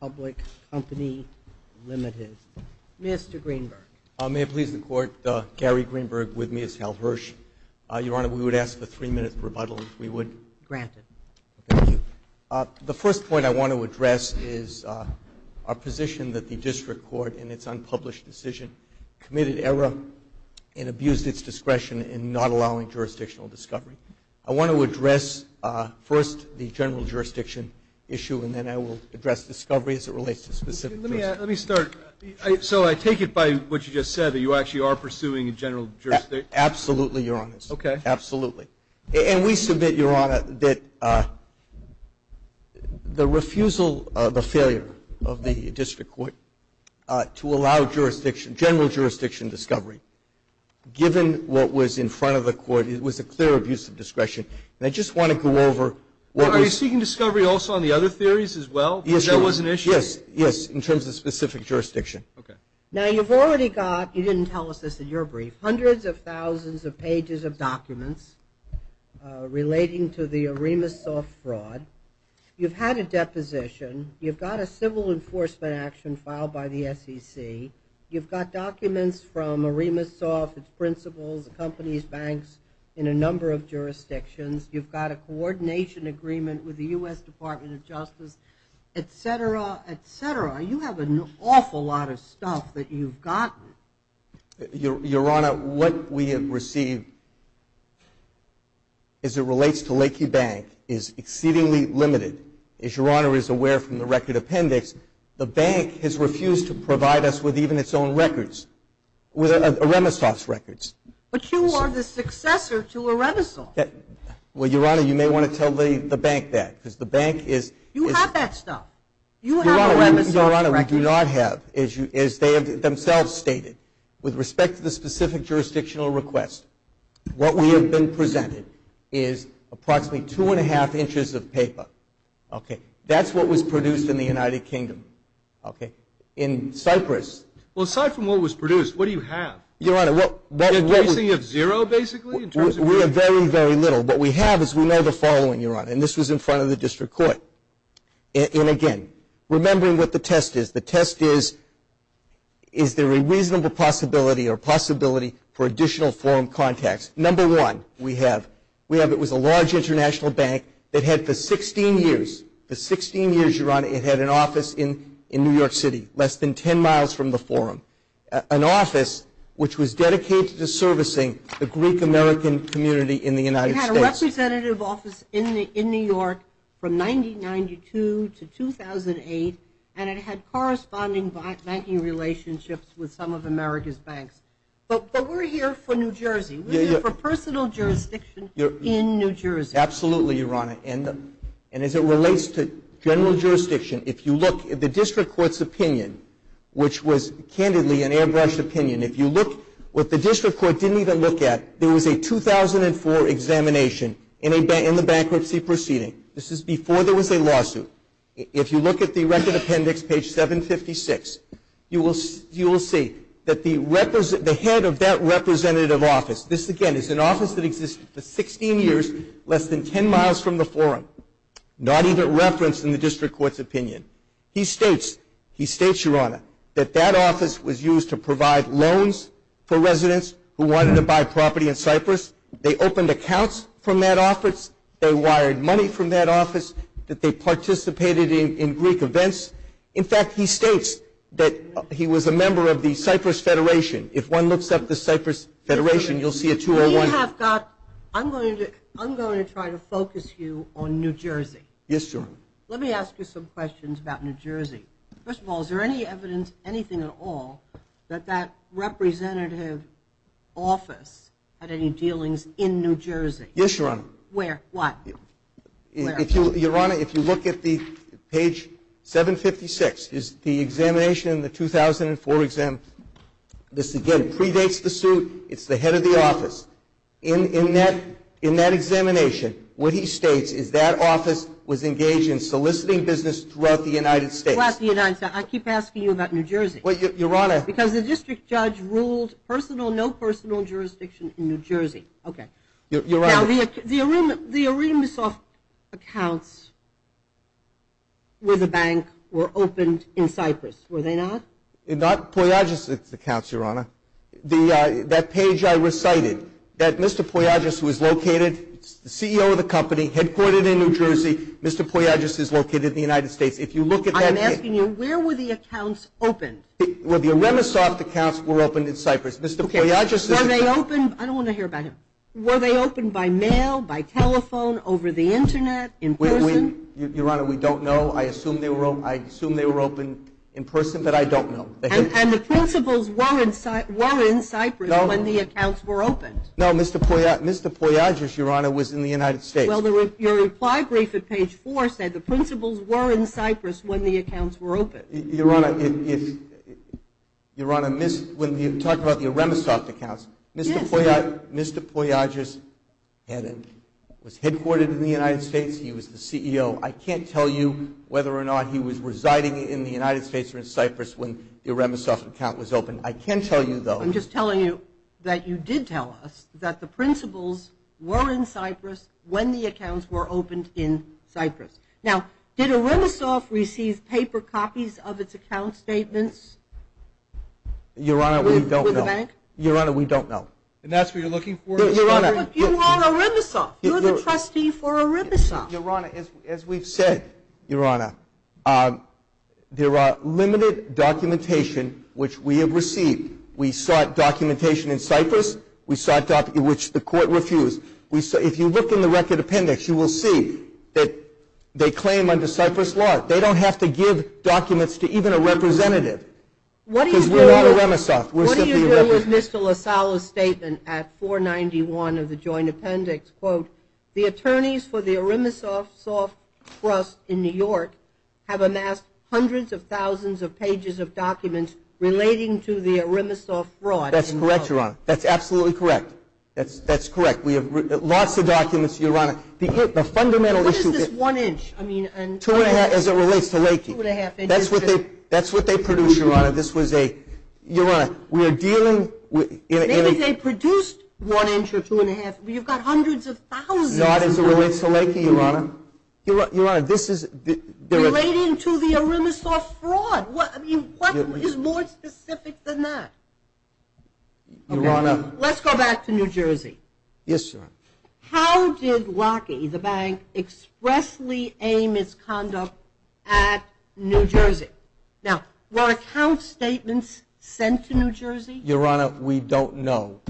Public Company Limited. Mr. Greenberg. May it please the Court, Gary Greenberg with Ms. Hal Hirsch. Your Honor, we would ask for three minutes of rebuttal if we would. Granted. Thank you. The first point I want to address is our position that the District Court, in its unpublished decision, committed error and abused its discretion in not allowing jurisdictional discovery. I want to address first the general jurisdiction issue, and then I will address discovery as it relates to specific jurisdiction. Let me start. So I take it by what you just said, that you actually are pursuing a general jurisdiction? Absolutely, Your Honor. Okay. Absolutely. And we submit, Your Honor, that the refusal, the failure of the District Court to allow jurisdiction, general jurisdiction discovery, given what was in front of the Court, it was a clear abuse of discretion. And I just want to go over what was... Are you seeking discovery also on the other theories as well? Yes, Your Honor. Because that was an issue? Yes. Yes. In terms of specific jurisdiction. Okay. Now, you've already got, you didn't tell us this in your brief, hundreds of thousands of pages of documents relating to the Aremis soft fraud. You've had a deposition. You've got a civil enforcement action filed by the SEC. You've got documents from Aremis soft, its principles, the company's banks in a number of jurisdictions. You've got a coordination agreement with the U.S. Department of Justice, etc., etc. You have an awful lot of stuff that you've gotten. Your Honor, what we have received as it relates to the record appendix, the bank has refused to provide us with even its own records, Aremis soft's records. But you are the successor to Aremis soft. Well, Your Honor, you may want to tell the bank that, because the bank is... You have that stuff. You have Aremis soft records. Your Honor, we do not have, as they have themselves stated. With respect to the specific jurisdictional request, what we have been presented is approximately two and a half inches of paper. Okay. That's what was produced in the United Kingdom. Okay. In Cyprus... Well, aside from what was produced, what do you have? Your Honor, what... Anything of zero, basically, in terms of... We have very, very little. What we have is, we know the following, Your Honor, and this was in front of the district court. And again, remembering what the test is. The test is, is there a reasonable possibility or possibility for additional forum contacts? Number one, we have, we have... It was a large international bank that had for 16 years, for 16 years, Your Honor, it had an office in New York City, less than 10 miles from the forum. An office which was dedicated to servicing the Greek-American community in the United States. It had a representative office in New York from 1992 to 2008, But we're here for New Jersey. We're here for personal jurisdiction in New Jersey. Absolutely, Your Honor. And as it relates to general jurisdiction, if you look, the district court's opinion, which was candidly an airbrushed opinion, if you look what the district court didn't even look at, there was a 2004 examination in the bankruptcy proceeding. This is before there was a lawsuit. If you look at the record appendix, page 756, you will see that the head of that representative office, this again is an office that existed for 16 years, less than 10 miles from the forum. Not even referenced in the district court's opinion. He states, he states, Your Honor, that that office was used to provide loans for residents who wanted to buy property in Cyprus. They opened accounts from that office. They wired money from that office. That they participated in Greek events. In fact, he states that he was a member of the Cyprus Federation. If one looks up the Cyprus Federation, you'll see a 201. You have got, I'm going to try to focus you on New Jersey. Yes, Your Honor. Let me ask you some questions about New Jersey. First of all, is there any evidence, anything at all, that that representative office had any dealings in New Jersey? Yes, Your Honor. Where? What? If you, Your Honor, if you look at the page 756, is the examination in the 2004 exam, this again predates the suit. It's the head of the office. In that examination, what he states is that office was engaged in soliciting business throughout the United States. I keep asking you about New Jersey. Your Honor. Because the district judge ruled personal, no personal jurisdiction in New Jersey. Okay. Your Honor. The Aramisoft accounts with the bank were opened in Cyprus, were they not? Not Poyadzis' accounts, Your Honor. That page I recited, that Mr. Poyadzis was located, the CEO of the company, headquartered in New Jersey. Mr. Poyadzis is located in the United States. If you look at that page. I'm asking you, where were the accounts opened? Well, the Aramisoft accounts were opened in Cyprus. Mr. Poyadzis' accounts. Were they opened, I don't want to hear about him. Were they opened by mail, by telephone, over the Internet, in person? Your Honor, we don't know. I assume they were opened in person, but I don't know. And the principals were in Cyprus when the accounts were opened. No, Mr. Poyadzis, Your Honor, was in the United States. Well, your reply brief at page four said the principals were in Cyprus when the accounts were opened. Your Honor, when you talk about the Aramisoft accounts, Mr. Poyadzis was headquartered in the United States. He was the CEO. I can't tell you whether or not he was residing in the United States or in Cyprus when the Aramisoft account was opened. I can tell you, though. I'm just telling you that you did tell us that the principals were in Cyprus when the accounts were opened in Cyprus. Now, did Aramisoft receive paper copies of its account statements? Your Honor, we don't know. With the bank? Your Honor, we don't know. And that's what you're looking for? Your Honor. You want Aramisoft. You're the trustee for Aramisoft. Your Honor, as we've said, Your Honor, there are limited documentation which we have received. We sought documentation in Cyprus, which the court refused. If you look in the record appendix, you will see that they claim under Cyprus law they don't have to give documents to even a representative because we're not Aramisoft. What do you do with Mr. LoSallo's statement at 491 of the joint appendix? Quote, The attorneys for the Aramisoft Trust in New York have amassed hundreds of thousands of pages of documents relating to the Aramisoft fraud. That's correct, Your Honor. That's absolutely correct. That's correct. We have lots of documents, Your Honor. What is this one inch? That's what they produced, Your Honor. This was a, Your Honor, we are dealing with. Maybe they produced one inch or two and a half. You've got hundreds of thousands of documents. Not as it relates to Leakey, Your Honor. Your Honor, this is. Relating to the Aramisoft fraud. What is more specific than that? Your Honor. Let's go back to New Jersey. Yes, Your Honor. How did Lockheed, the bank, expressly aim its conduct at New Jersey? Now, were account statements sent to New Jersey? Your Honor, we don't know.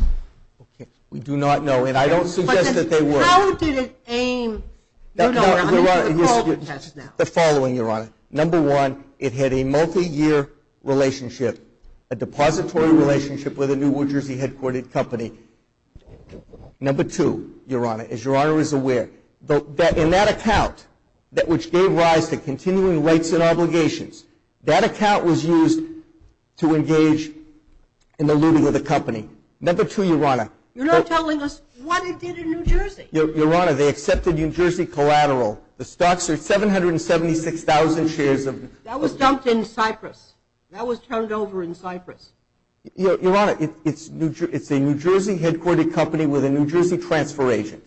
We do not know. And I don't suggest that they were. How did it aim New Jersey? The following, Your Honor. Number one, it had a multi-year relationship, a depository relationship with a New Jersey headquartered company. Number two, Your Honor, as Your Honor is aware, in that account, which gave rise to continuing rights and obligations, that account was used to engage in the looting of the company. Number two, Your Honor. You're not telling us what it did in New Jersey. Your Honor, they accepted New Jersey collateral. The stocks are 776,000 shares of. That was dumped in Cyprus. That was turned over in Cyprus. Your Honor, it's a New Jersey headquartered company with a New Jersey transfer agent.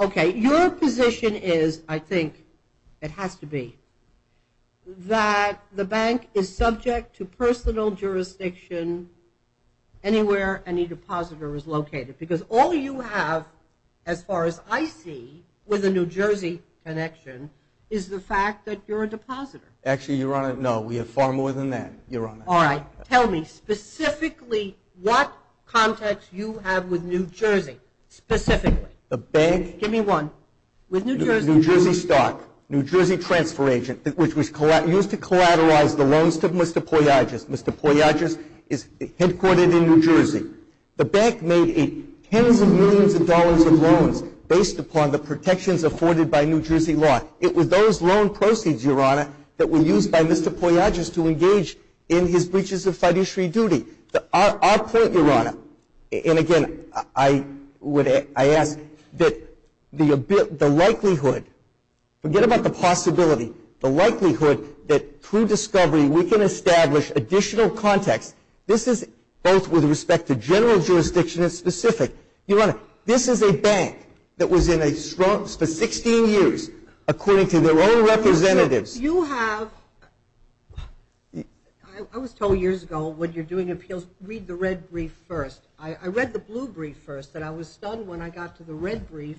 Okay. Your position is, I think it has to be, that the bank is subject to personal jurisdiction anywhere any depositor is located. Because all you have, as far as I see, with a New Jersey connection, is the fact that you're a depositor. Actually, Your Honor, no. We have far more than that, Your Honor. All right. Tell me specifically what contacts you have with New Jersey. Specifically. The bank. Give me one. With New Jersey. New Jersey stock, New Jersey transfer agent, which was used to collateralize the loans to Mr. Poyajas. Mr. Poyajas is headquartered in New Jersey. The bank made tens of millions of dollars of loans based upon the protections afforded by New Jersey law. It was those loan proceeds, Your Honor, that were used by Mr. Poyajas to engage in his breaches of fiduciary duty. Our point, Your Honor, and again, I ask that the likelihood, forget about the possibility, the likelihood that through discovery we can establish additional contacts. This is both with respect to general jurisdiction and specific. Your Honor, this is a bank that was in a strong, for 16 years, according to their own representatives. You have, I was told years ago when you're doing appeals, read the red brief first. I read the blue brief first, and I was stunned when I got to the red brief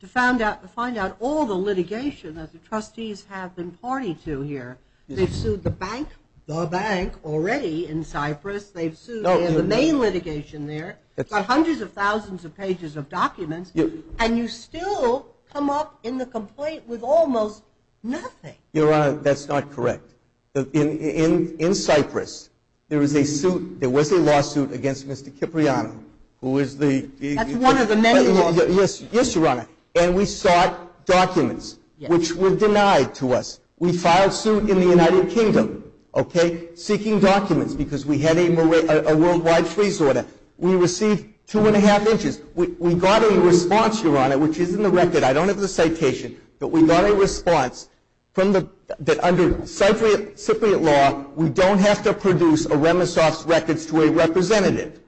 to find out all the litigation that the trustees have been party to here. They've sued the bank, the bank already in Cyprus. They've sued the main litigation there. They've got hundreds of thousands of pages of documents, and you still come up in the complaint with almost nothing. Your Honor, that's not correct. In Cyprus, there is a suit, there was a lawsuit against Mr. Cipriano, who is the- That's one of the many lawsuits. Yes, Your Honor, and we sought documents which were denied to us. We filed suit in the United Kingdom, okay, seeking documents because we had a worldwide freeze order. We received two and a half inches. We got a response, Your Honor, which is in the record. I don't have the citation, but we got a response that under Cypriot law, we don't have to produce a remiss office records to a representative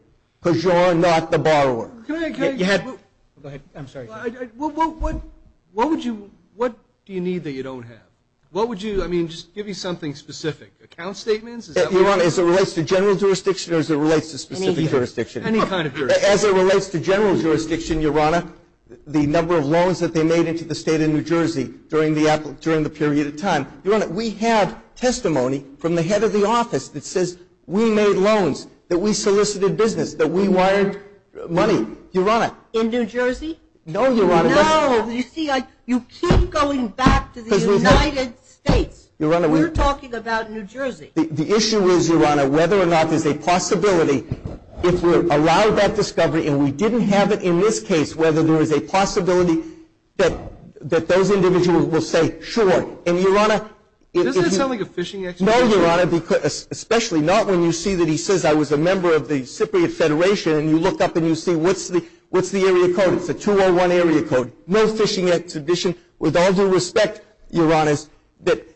because you're not the borrower. Go ahead. I'm sorry. What do you need that you don't have? What would you, I mean, just give me something specific. Account statements? Your Honor, as it relates to general jurisdiction or as it relates to specific jurisdiction? Any jurisdiction. Any kind of jurisdiction. As it relates to general jurisdiction, Your Honor, the number of loans that they made into the state of New Jersey during the period of time. Your Honor, we have testimony from the head of the office that says we made loans, that we solicited business, that we wired money. Your Honor. In New Jersey? No, Your Honor. No, you see, you keep going back to the United States. Your Honor, we're- We're talking about New Jersey. The issue is, Your Honor, whether or not there's a possibility if we're allowed that discovery and we didn't have it in this case, whether there is a possibility that those individuals will say, sure. And, Your Honor- Doesn't it sound like a phishing exhibition? No, Your Honor, especially not when you see that he says I was a member of the Cypriot Federation and you look up and you see what's the area code? It's a 201 area code. No phishing exhibition. With all due respect, Your Honors, that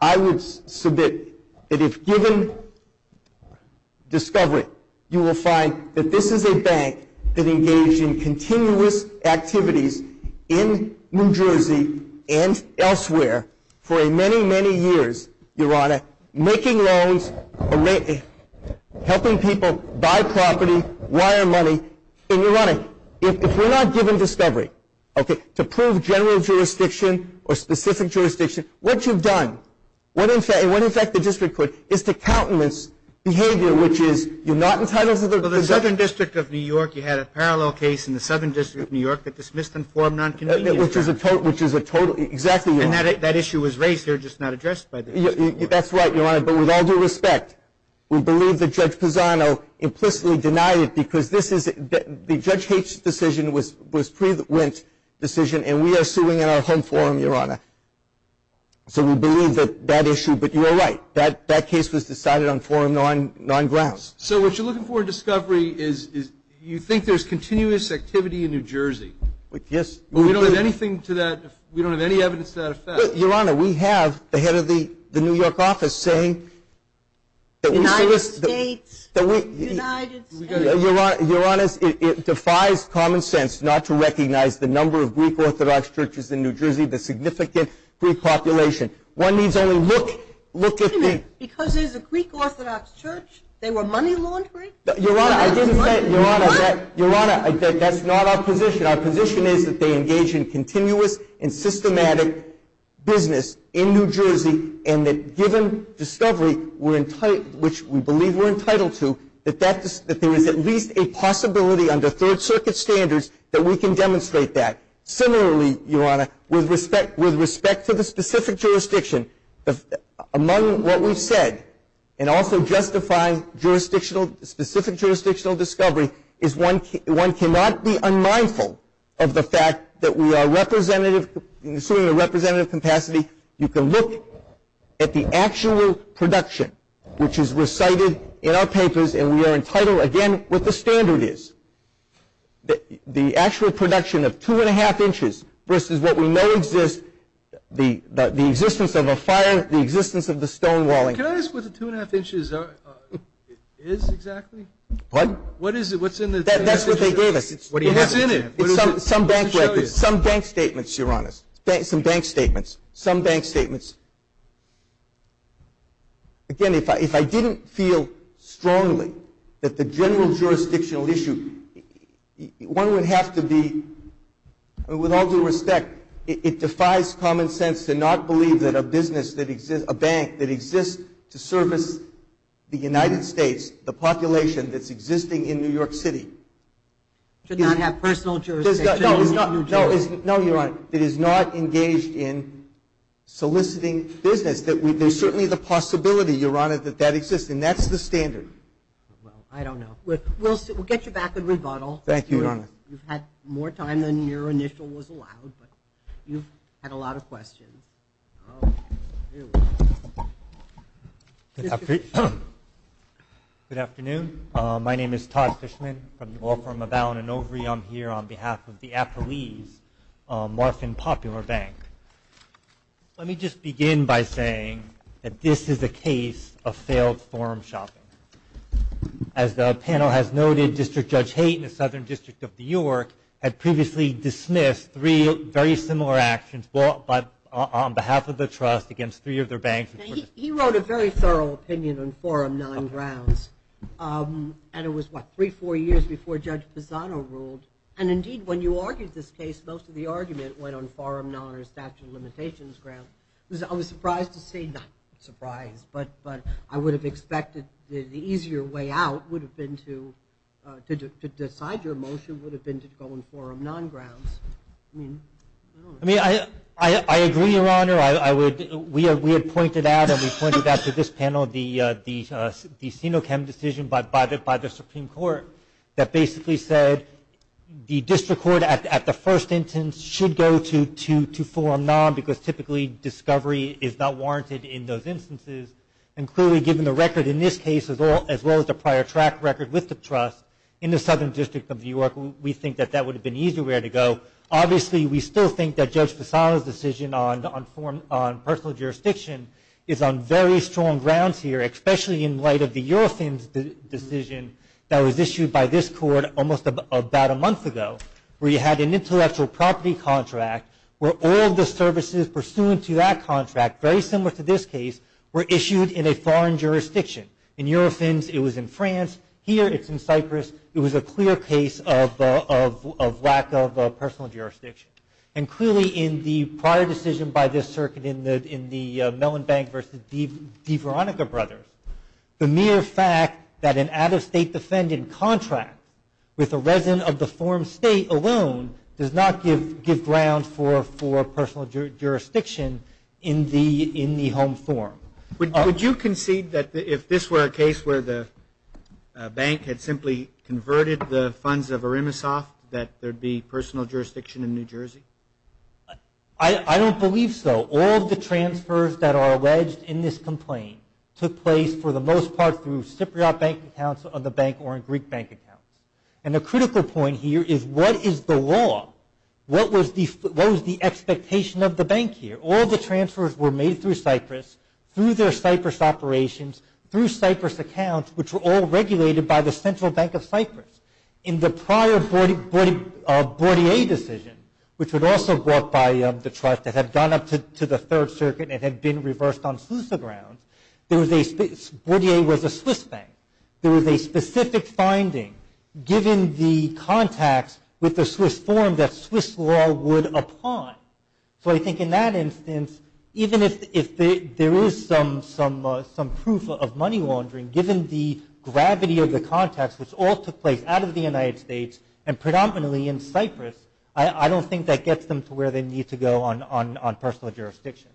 I would submit that if given discovery, you will find that this is a bank that engaged in continuous activities in New Jersey and elsewhere for many, many years, Your Honor, making loans, helping people buy property, wire money. And, Your Honor, if we're not given discovery, okay, to prove general jurisdiction or specific jurisdiction, what you've done and what, in fact, the district court is to countenance behavior, which is you're not entitled to- Well, the Southern District of New York, you had a parallel case in the Southern District of New York that dismissed and formed non-convenience. Which is a total-exactly, Your Honor. And that issue was raised here, just not addressed by the district court. That's right, Your Honor, but with all due respect, we believe that Judge Pisano implicitly denied it because this is-the Judge H's decision was pre-Went decision, and we are suing in our home forum, Your Honor. So we believe that that issue-but you are right. That case was decided on forum non-grounds. So what you're looking for in discovery is you think there's continuous activity in New Jersey. Yes. But we don't have anything to that-we don't have any evidence to that effect. Your Honor, we have the head of the New York office saying that we- United States, United States. Your Honor, it defies common sense not to recognize the number of Greek Orthodox churches in New Jersey, the significant Greek population. One needs only look at the- Wait a minute. Because there's a Greek Orthodox church, they were money laundering? Your Honor, I didn't say- They were money laundering. Your Honor, that's not our position. Our position is that they engage in continuous and systematic business in New Jersey, and that given discovery, which we believe we're entitled to, that there is at least a possibility under Third Circuit standards that we can demonstrate that. Similarly, Your Honor, with respect to the specific jurisdiction, among what we've said, and also justifying jurisdictional-specific jurisdictional discovery, is one cannot be unmindful of the fact that we are representative-assuming a representative capacity, you can look at the actual production, which is recited in our papers, and we are entitled, again, what the standard is. The actual production of two-and-a-half inches versus what we know exists, the existence of a fire, the existence of the stone walling. Can I ask what the two-and-a-half inches is exactly? Pardon? What is it? What's in the- That's what they gave us. What do you have? What's in it? Some bank statements, Your Honor. Some bank statements. Some bank statements. Again, if I didn't feel strongly that the general jurisdictional issue, one would have to be, with all due respect, it defies common sense to not believe that a business that exists, a bank that exists to service the United States, the population that's existing in New York City- Should not have personal jurisdiction. No, Your Honor. That is not engaged in soliciting business. There's certainly the possibility, Your Honor, that that exists, and that's the standard. I don't know. We'll get you back in rebuttal. Thank you, Your Honor. You've had more time than your initial was allowed, but you've had a lot of questions. My name is Todd Fishman from the law firm of Allen & Overy. I'm here on behalf of the Appalese, Marfin Popular Bank. Let me just begin by saying that this is a case of failed forum shopping. As the panel has noted, District Judge Hayton, the Southern District of New York, had previously dismissed three very similar actions on behalf of the trust against three of their banks. He wrote a very thorough opinion on Forum 9 grounds, and it was, what, three, four years before Judge Pisano ruled. Indeed, when you argued this case, most of the argument went on Forum 9 or Statute of Limitations grounds. I was surprised to see, not surprised, but I would have expected the easier way out would have been to decide your motion would have been to go on Forum 9 grounds. I agree, Your Honor. We had pointed out, and we pointed out to this panel, the Sinochem decision by the Supreme Court that basically said the District Court, at the first instance, should go to Forum 9 because, typically, discovery is not warranted in those instances. Clearly, given the record in this case, as well as the prior track record with the trust in the Southern District of New York, we think that that would have been the easier way to go. Obviously, we still think that Judge Pisano's decision on personal jurisdiction is on very strong grounds here, especially in light of the Eurofins decision that was issued by this court almost about a month ago where you had an intellectual property contract where all the services pursuant to that contract, very similar to this case, were issued in a foreign jurisdiction. In Eurofins, it was in France. Here, it's in Cyprus. It was a clear case of lack of personal jurisdiction. Clearly, in the prior decision by this circuit in the Mellon Bank v. DeVeronica Brothers, the mere fact that an out-of-state defendant contract with a resident of the forum state alone does not give ground for personal jurisdiction in the home forum. Would you concede that if this were a case where the bank had simply converted the funds of Arimisoft that there'd be personal jurisdiction in New Jersey? I don't believe so. All of the transfers that are alleged in this complaint took place for the most part through Cypriot bank accounts of the bank or in Greek bank accounts. And the critical point here is what is the law? What was the expectation of the bank here? All the transfers were made through Cyprus, through their Cyprus operations, through Cyprus accounts, which were all regulated by the Central Bank of Cyprus. In the prior Bordier decision, which would also work by the trust that had gone up to the Third Circuit and had been reversed on Sousa grounds, Bordier was a Swiss bank. There was a specific finding, given the contacts with the Swiss forum, that Swiss law would apply. So I think in that instance, even if there is some proof of money laundering, given the gravity of the contacts, which all took place out of the United States and predominantly in Cyprus, I don't think that gets them to where they need to go on personal jurisdiction.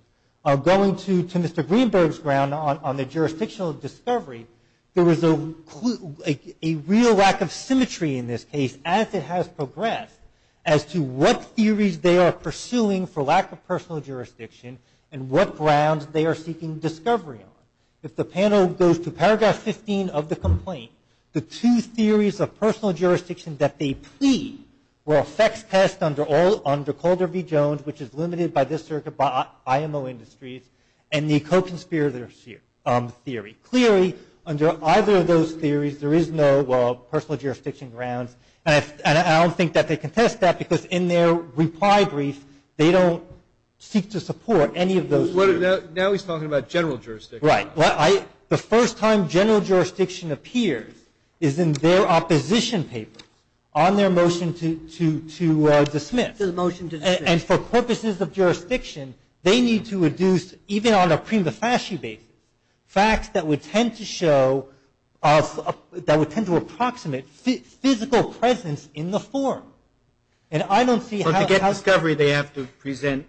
Going to Mr. Greenberg's ground on the jurisdictional discovery, there was a real lack of symmetry in this case as it has progressed as to what they are suing for lack of personal jurisdiction and what grounds they are seeking discovery on. If the panel goes to Paragraph 15 of the complaint, the two theories of personal jurisdiction that they plead were a sex test under Calder v. Jones, which is limited by this circuit by IMO industries, and the Koch and Spears theory. Clearly, under either of those theories, there is no personal jurisdiction grounds. And I don't think that they contest that because in their reply brief, they don't seek to support any of those. Now he's talking about general jurisdiction. Right. The first time general jurisdiction appears is in their opposition paper on their motion to dismiss. To the motion to dismiss. And for purposes of jurisdiction, they need to reduce, even on a prima facie basis, facts that would tend to approximate physical presence in the form. And I don't see how they have to present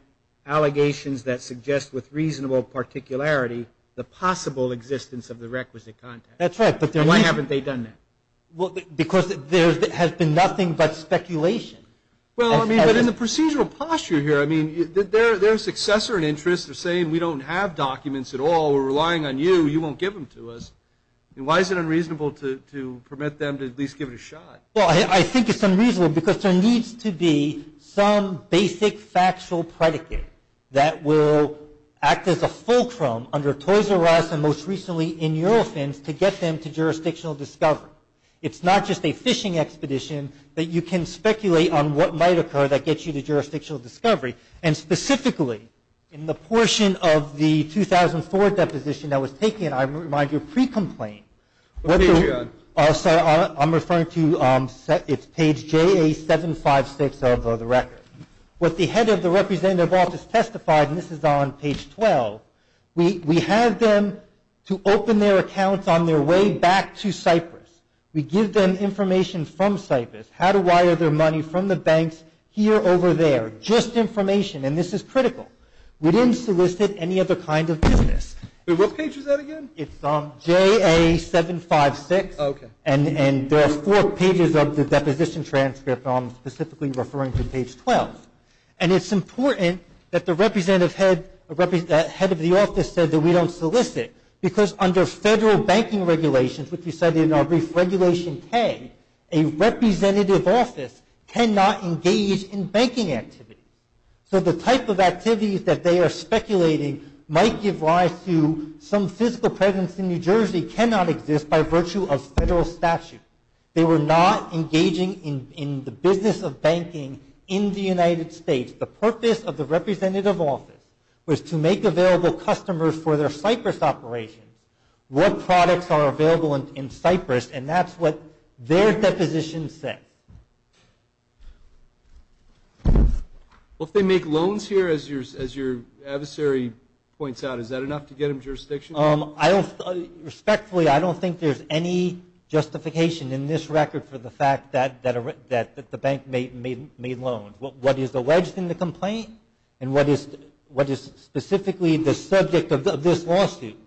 allegations that suggest with reasonable particularity the possible existence of the requisite context. That's right. And why haven't they done that? Because there has been nothing but speculation. Well, I mean, but in the procedural posture here, I mean, their successor and interests are saying we don't have documents at all, we're relying on you, you won't give them to us. Why is it unreasonable to permit them to at least give it a shot? Well, I think it's unreasonable because there needs to be some basic factual predicate that will act as a fulcrum under Toys R Us and most recently in your offense to get them to jurisdictional discovery. It's not just a fishing expedition that you can speculate on what might occur that gets you to jurisdictional discovery. And specifically in the portion of the 2004 deposition that was taken, I remind you, pre-complaint. What page are you on? Sorry, I'm referring to it's page JA756 of the record. What the head of the representative office testified, and this is on page 12, we have them to open their accounts on their way back to Cyprus. We give them information from Cyprus, how to wire their money from the banks here and over there, just information, and this is critical. We didn't solicit any other kind of business. What page is that again? It's JA756, and there are four pages of the deposition transcript specifically referring to page 12. And it's important that the head of the office said that we don't solicit because under federal banking regulations, which we cited in our brief regulation 10, a representative office cannot engage in banking activity. So the type of activities that they are speculating might give rise to some physical presence in New Jersey cannot exist by virtue of federal statute. They were not engaging in the business of banking in the United States. The purpose of the representative office was to make available customers for their Cyprus operations what products are available in Cyprus, and that's what their deposition said. Well, if they make loans here, as your adversary points out, is that enough to get them jurisdiction? Respectfully, I don't think there's any justification in this record for the fact that the bank made loans. What is alleged in the complaint and what is specifically the subject of this lawsuit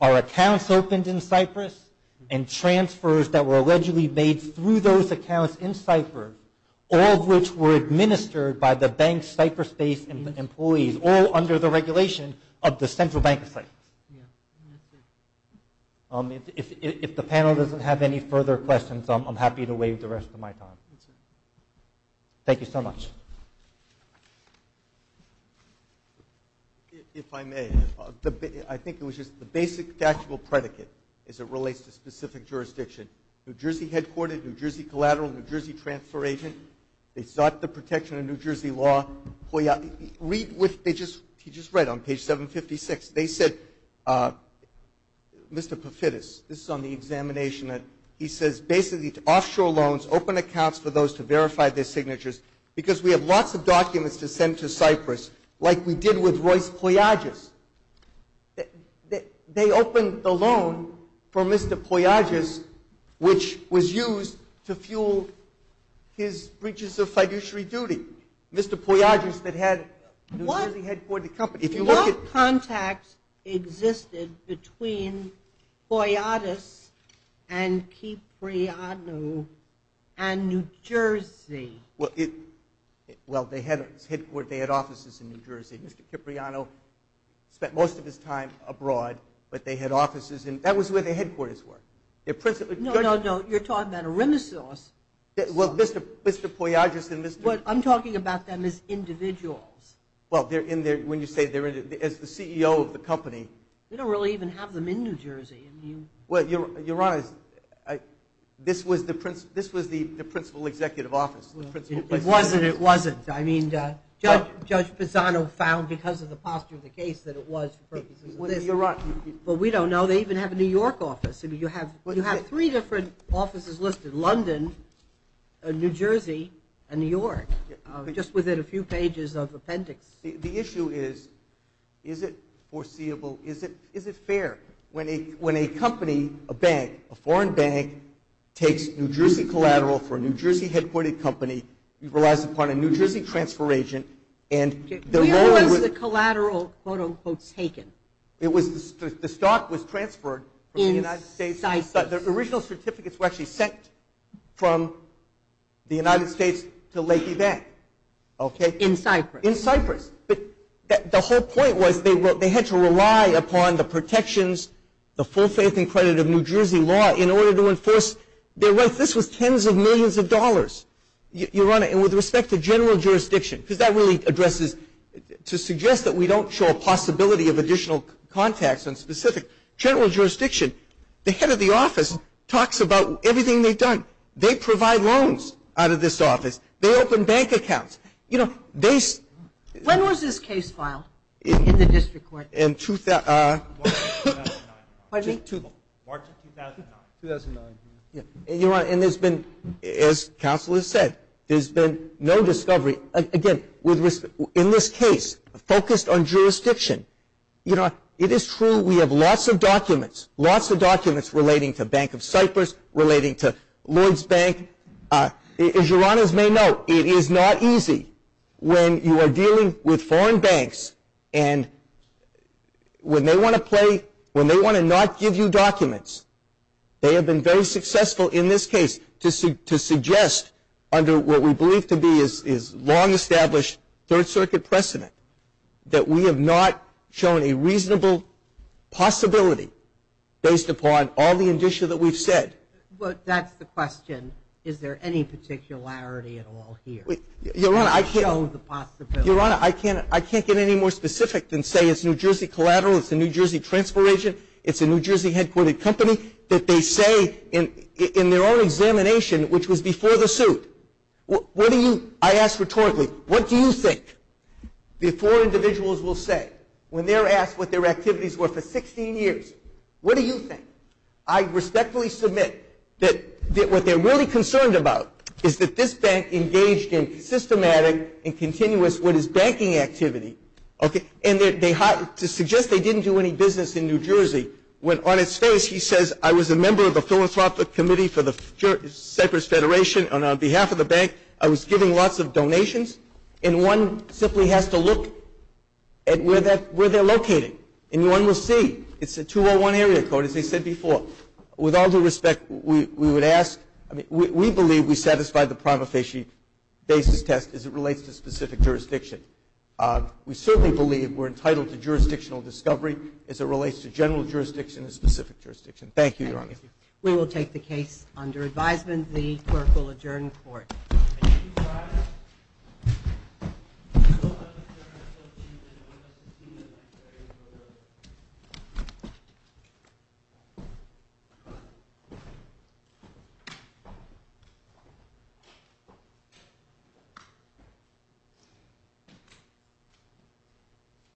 are accounts opened in Cyprus and transfers that were allegedly made through those accounts in Cyprus, all of which were administered by the bank's Cyprus-based employees, all under the regulation of the Central Bank of Cyprus. If the panel doesn't have any further questions, I'm happy to waive the rest of my time. Thank you so much. If I may, I think it was just the basic factual predicate as it relates to specific jurisdiction. New Jersey headquartered, New Jersey collateral, New Jersey transfer agent. They sought the protection of New Jersey law. Read what they just read on page 756. They said, Mr. Pafitis, this is on the examination. He says basically to offshore loans, open accounts for those to verify their signatures because we have lots of documents to send to Cyprus like we did with Royce Poyadis. They opened the loan for Mr. Poyadis, which was used to fuel his breaches of fiduciary duty. Mr. Poyadis that had New Jersey headquartered company. No contact existed between Poyadis and Cipriano and New Jersey. Well, they had offices in New Jersey. Mr. Cipriano spent most of his time abroad, but they had offices. That was where their headquarters were. No, no, no, you're talking about a renaissance. Well, Mr. Poyadis and Mr. I'm talking about them as individuals. Well, when you say as the CEO of the company. We don't really even have them in New Jersey. You're right. This was the principal executive office. It wasn't. It wasn't. I mean, Judge Pisano found because of the posture of the case that it was for purposes of this. You're right. But we don't know. They even have a New York office. You have three different offices listed, London, New Jersey, and New York, just within a few pages of appendix. The issue is, is it foreseeable? Is it fair when a company, a bank, a foreign bank, takes New Jersey collateral for a New Jersey headquartered company, relies upon a New Jersey transfer agent, and the loan would. Where was the collateral, quote, unquote, taken? The stock was transferred from the United States. The original certificates were actually sent from the United States to Lakey Bank. In Cyprus. In Cyprus. But the whole point was they had to rely upon the protections, the full faith and credit of New Jersey law in order to enforce their rights. This was tens of millions of dollars. Your Honor, and with respect to general jurisdiction, because that really addresses to suggest that we don't show a possibility of additional contacts on specific general jurisdiction, the head of the office talks about everything they've done. They provide loans out of this office. They open bank accounts. When was this case filed in the district court? March of 2009. Your Honor, and there's been, as counsel has said, there's been no discovery. Again, in this case, focused on jurisdiction. You know, it is true we have lots of documents, lots of documents relating to Bank of Cyprus, relating to Lloyds Bank. As your Honors may know, it is not easy when you are dealing with foreign banks and when they want to play, when they want to not give you documents. They have been very successful in this case to suggest under what we believe to be is long established Third Circuit precedent that we have not shown a reasonable possibility based upon all the indicia that we've said. But that's the question. Is there any particularity at all here? Your Honor, I can't get any more specific than say it's New Jersey collateral, it's a New Jersey transfer agent, it's a New Jersey headquartered company, I ask rhetorically, what do you think? Before individuals will say, when they're asked what their activities were for 16 years, what do you think? I respectfully submit that what they're really concerned about is that this bank engaged in systematic and continuous what is banking activity. And to suggest they didn't do any business in New Jersey, when on its face he says, I was a member of the Philosophic Committee for the Cypress Federation and on behalf of the bank I was giving lots of donations. And one simply has to look at where they're located. And one will see it's a 201 area code, as I said before. With all due respect, we would ask, we believe we satisfy the prima facie basis test as it relates to specific jurisdiction. We certainly believe we're entitled to jurisdictional discovery as it relates to general jurisdiction and specific jurisdiction. Thank you, Your Honor. We will take the case under advisement. The clerk will adjourn the court. Thank you, Your Honor. Thank you, Your Honor.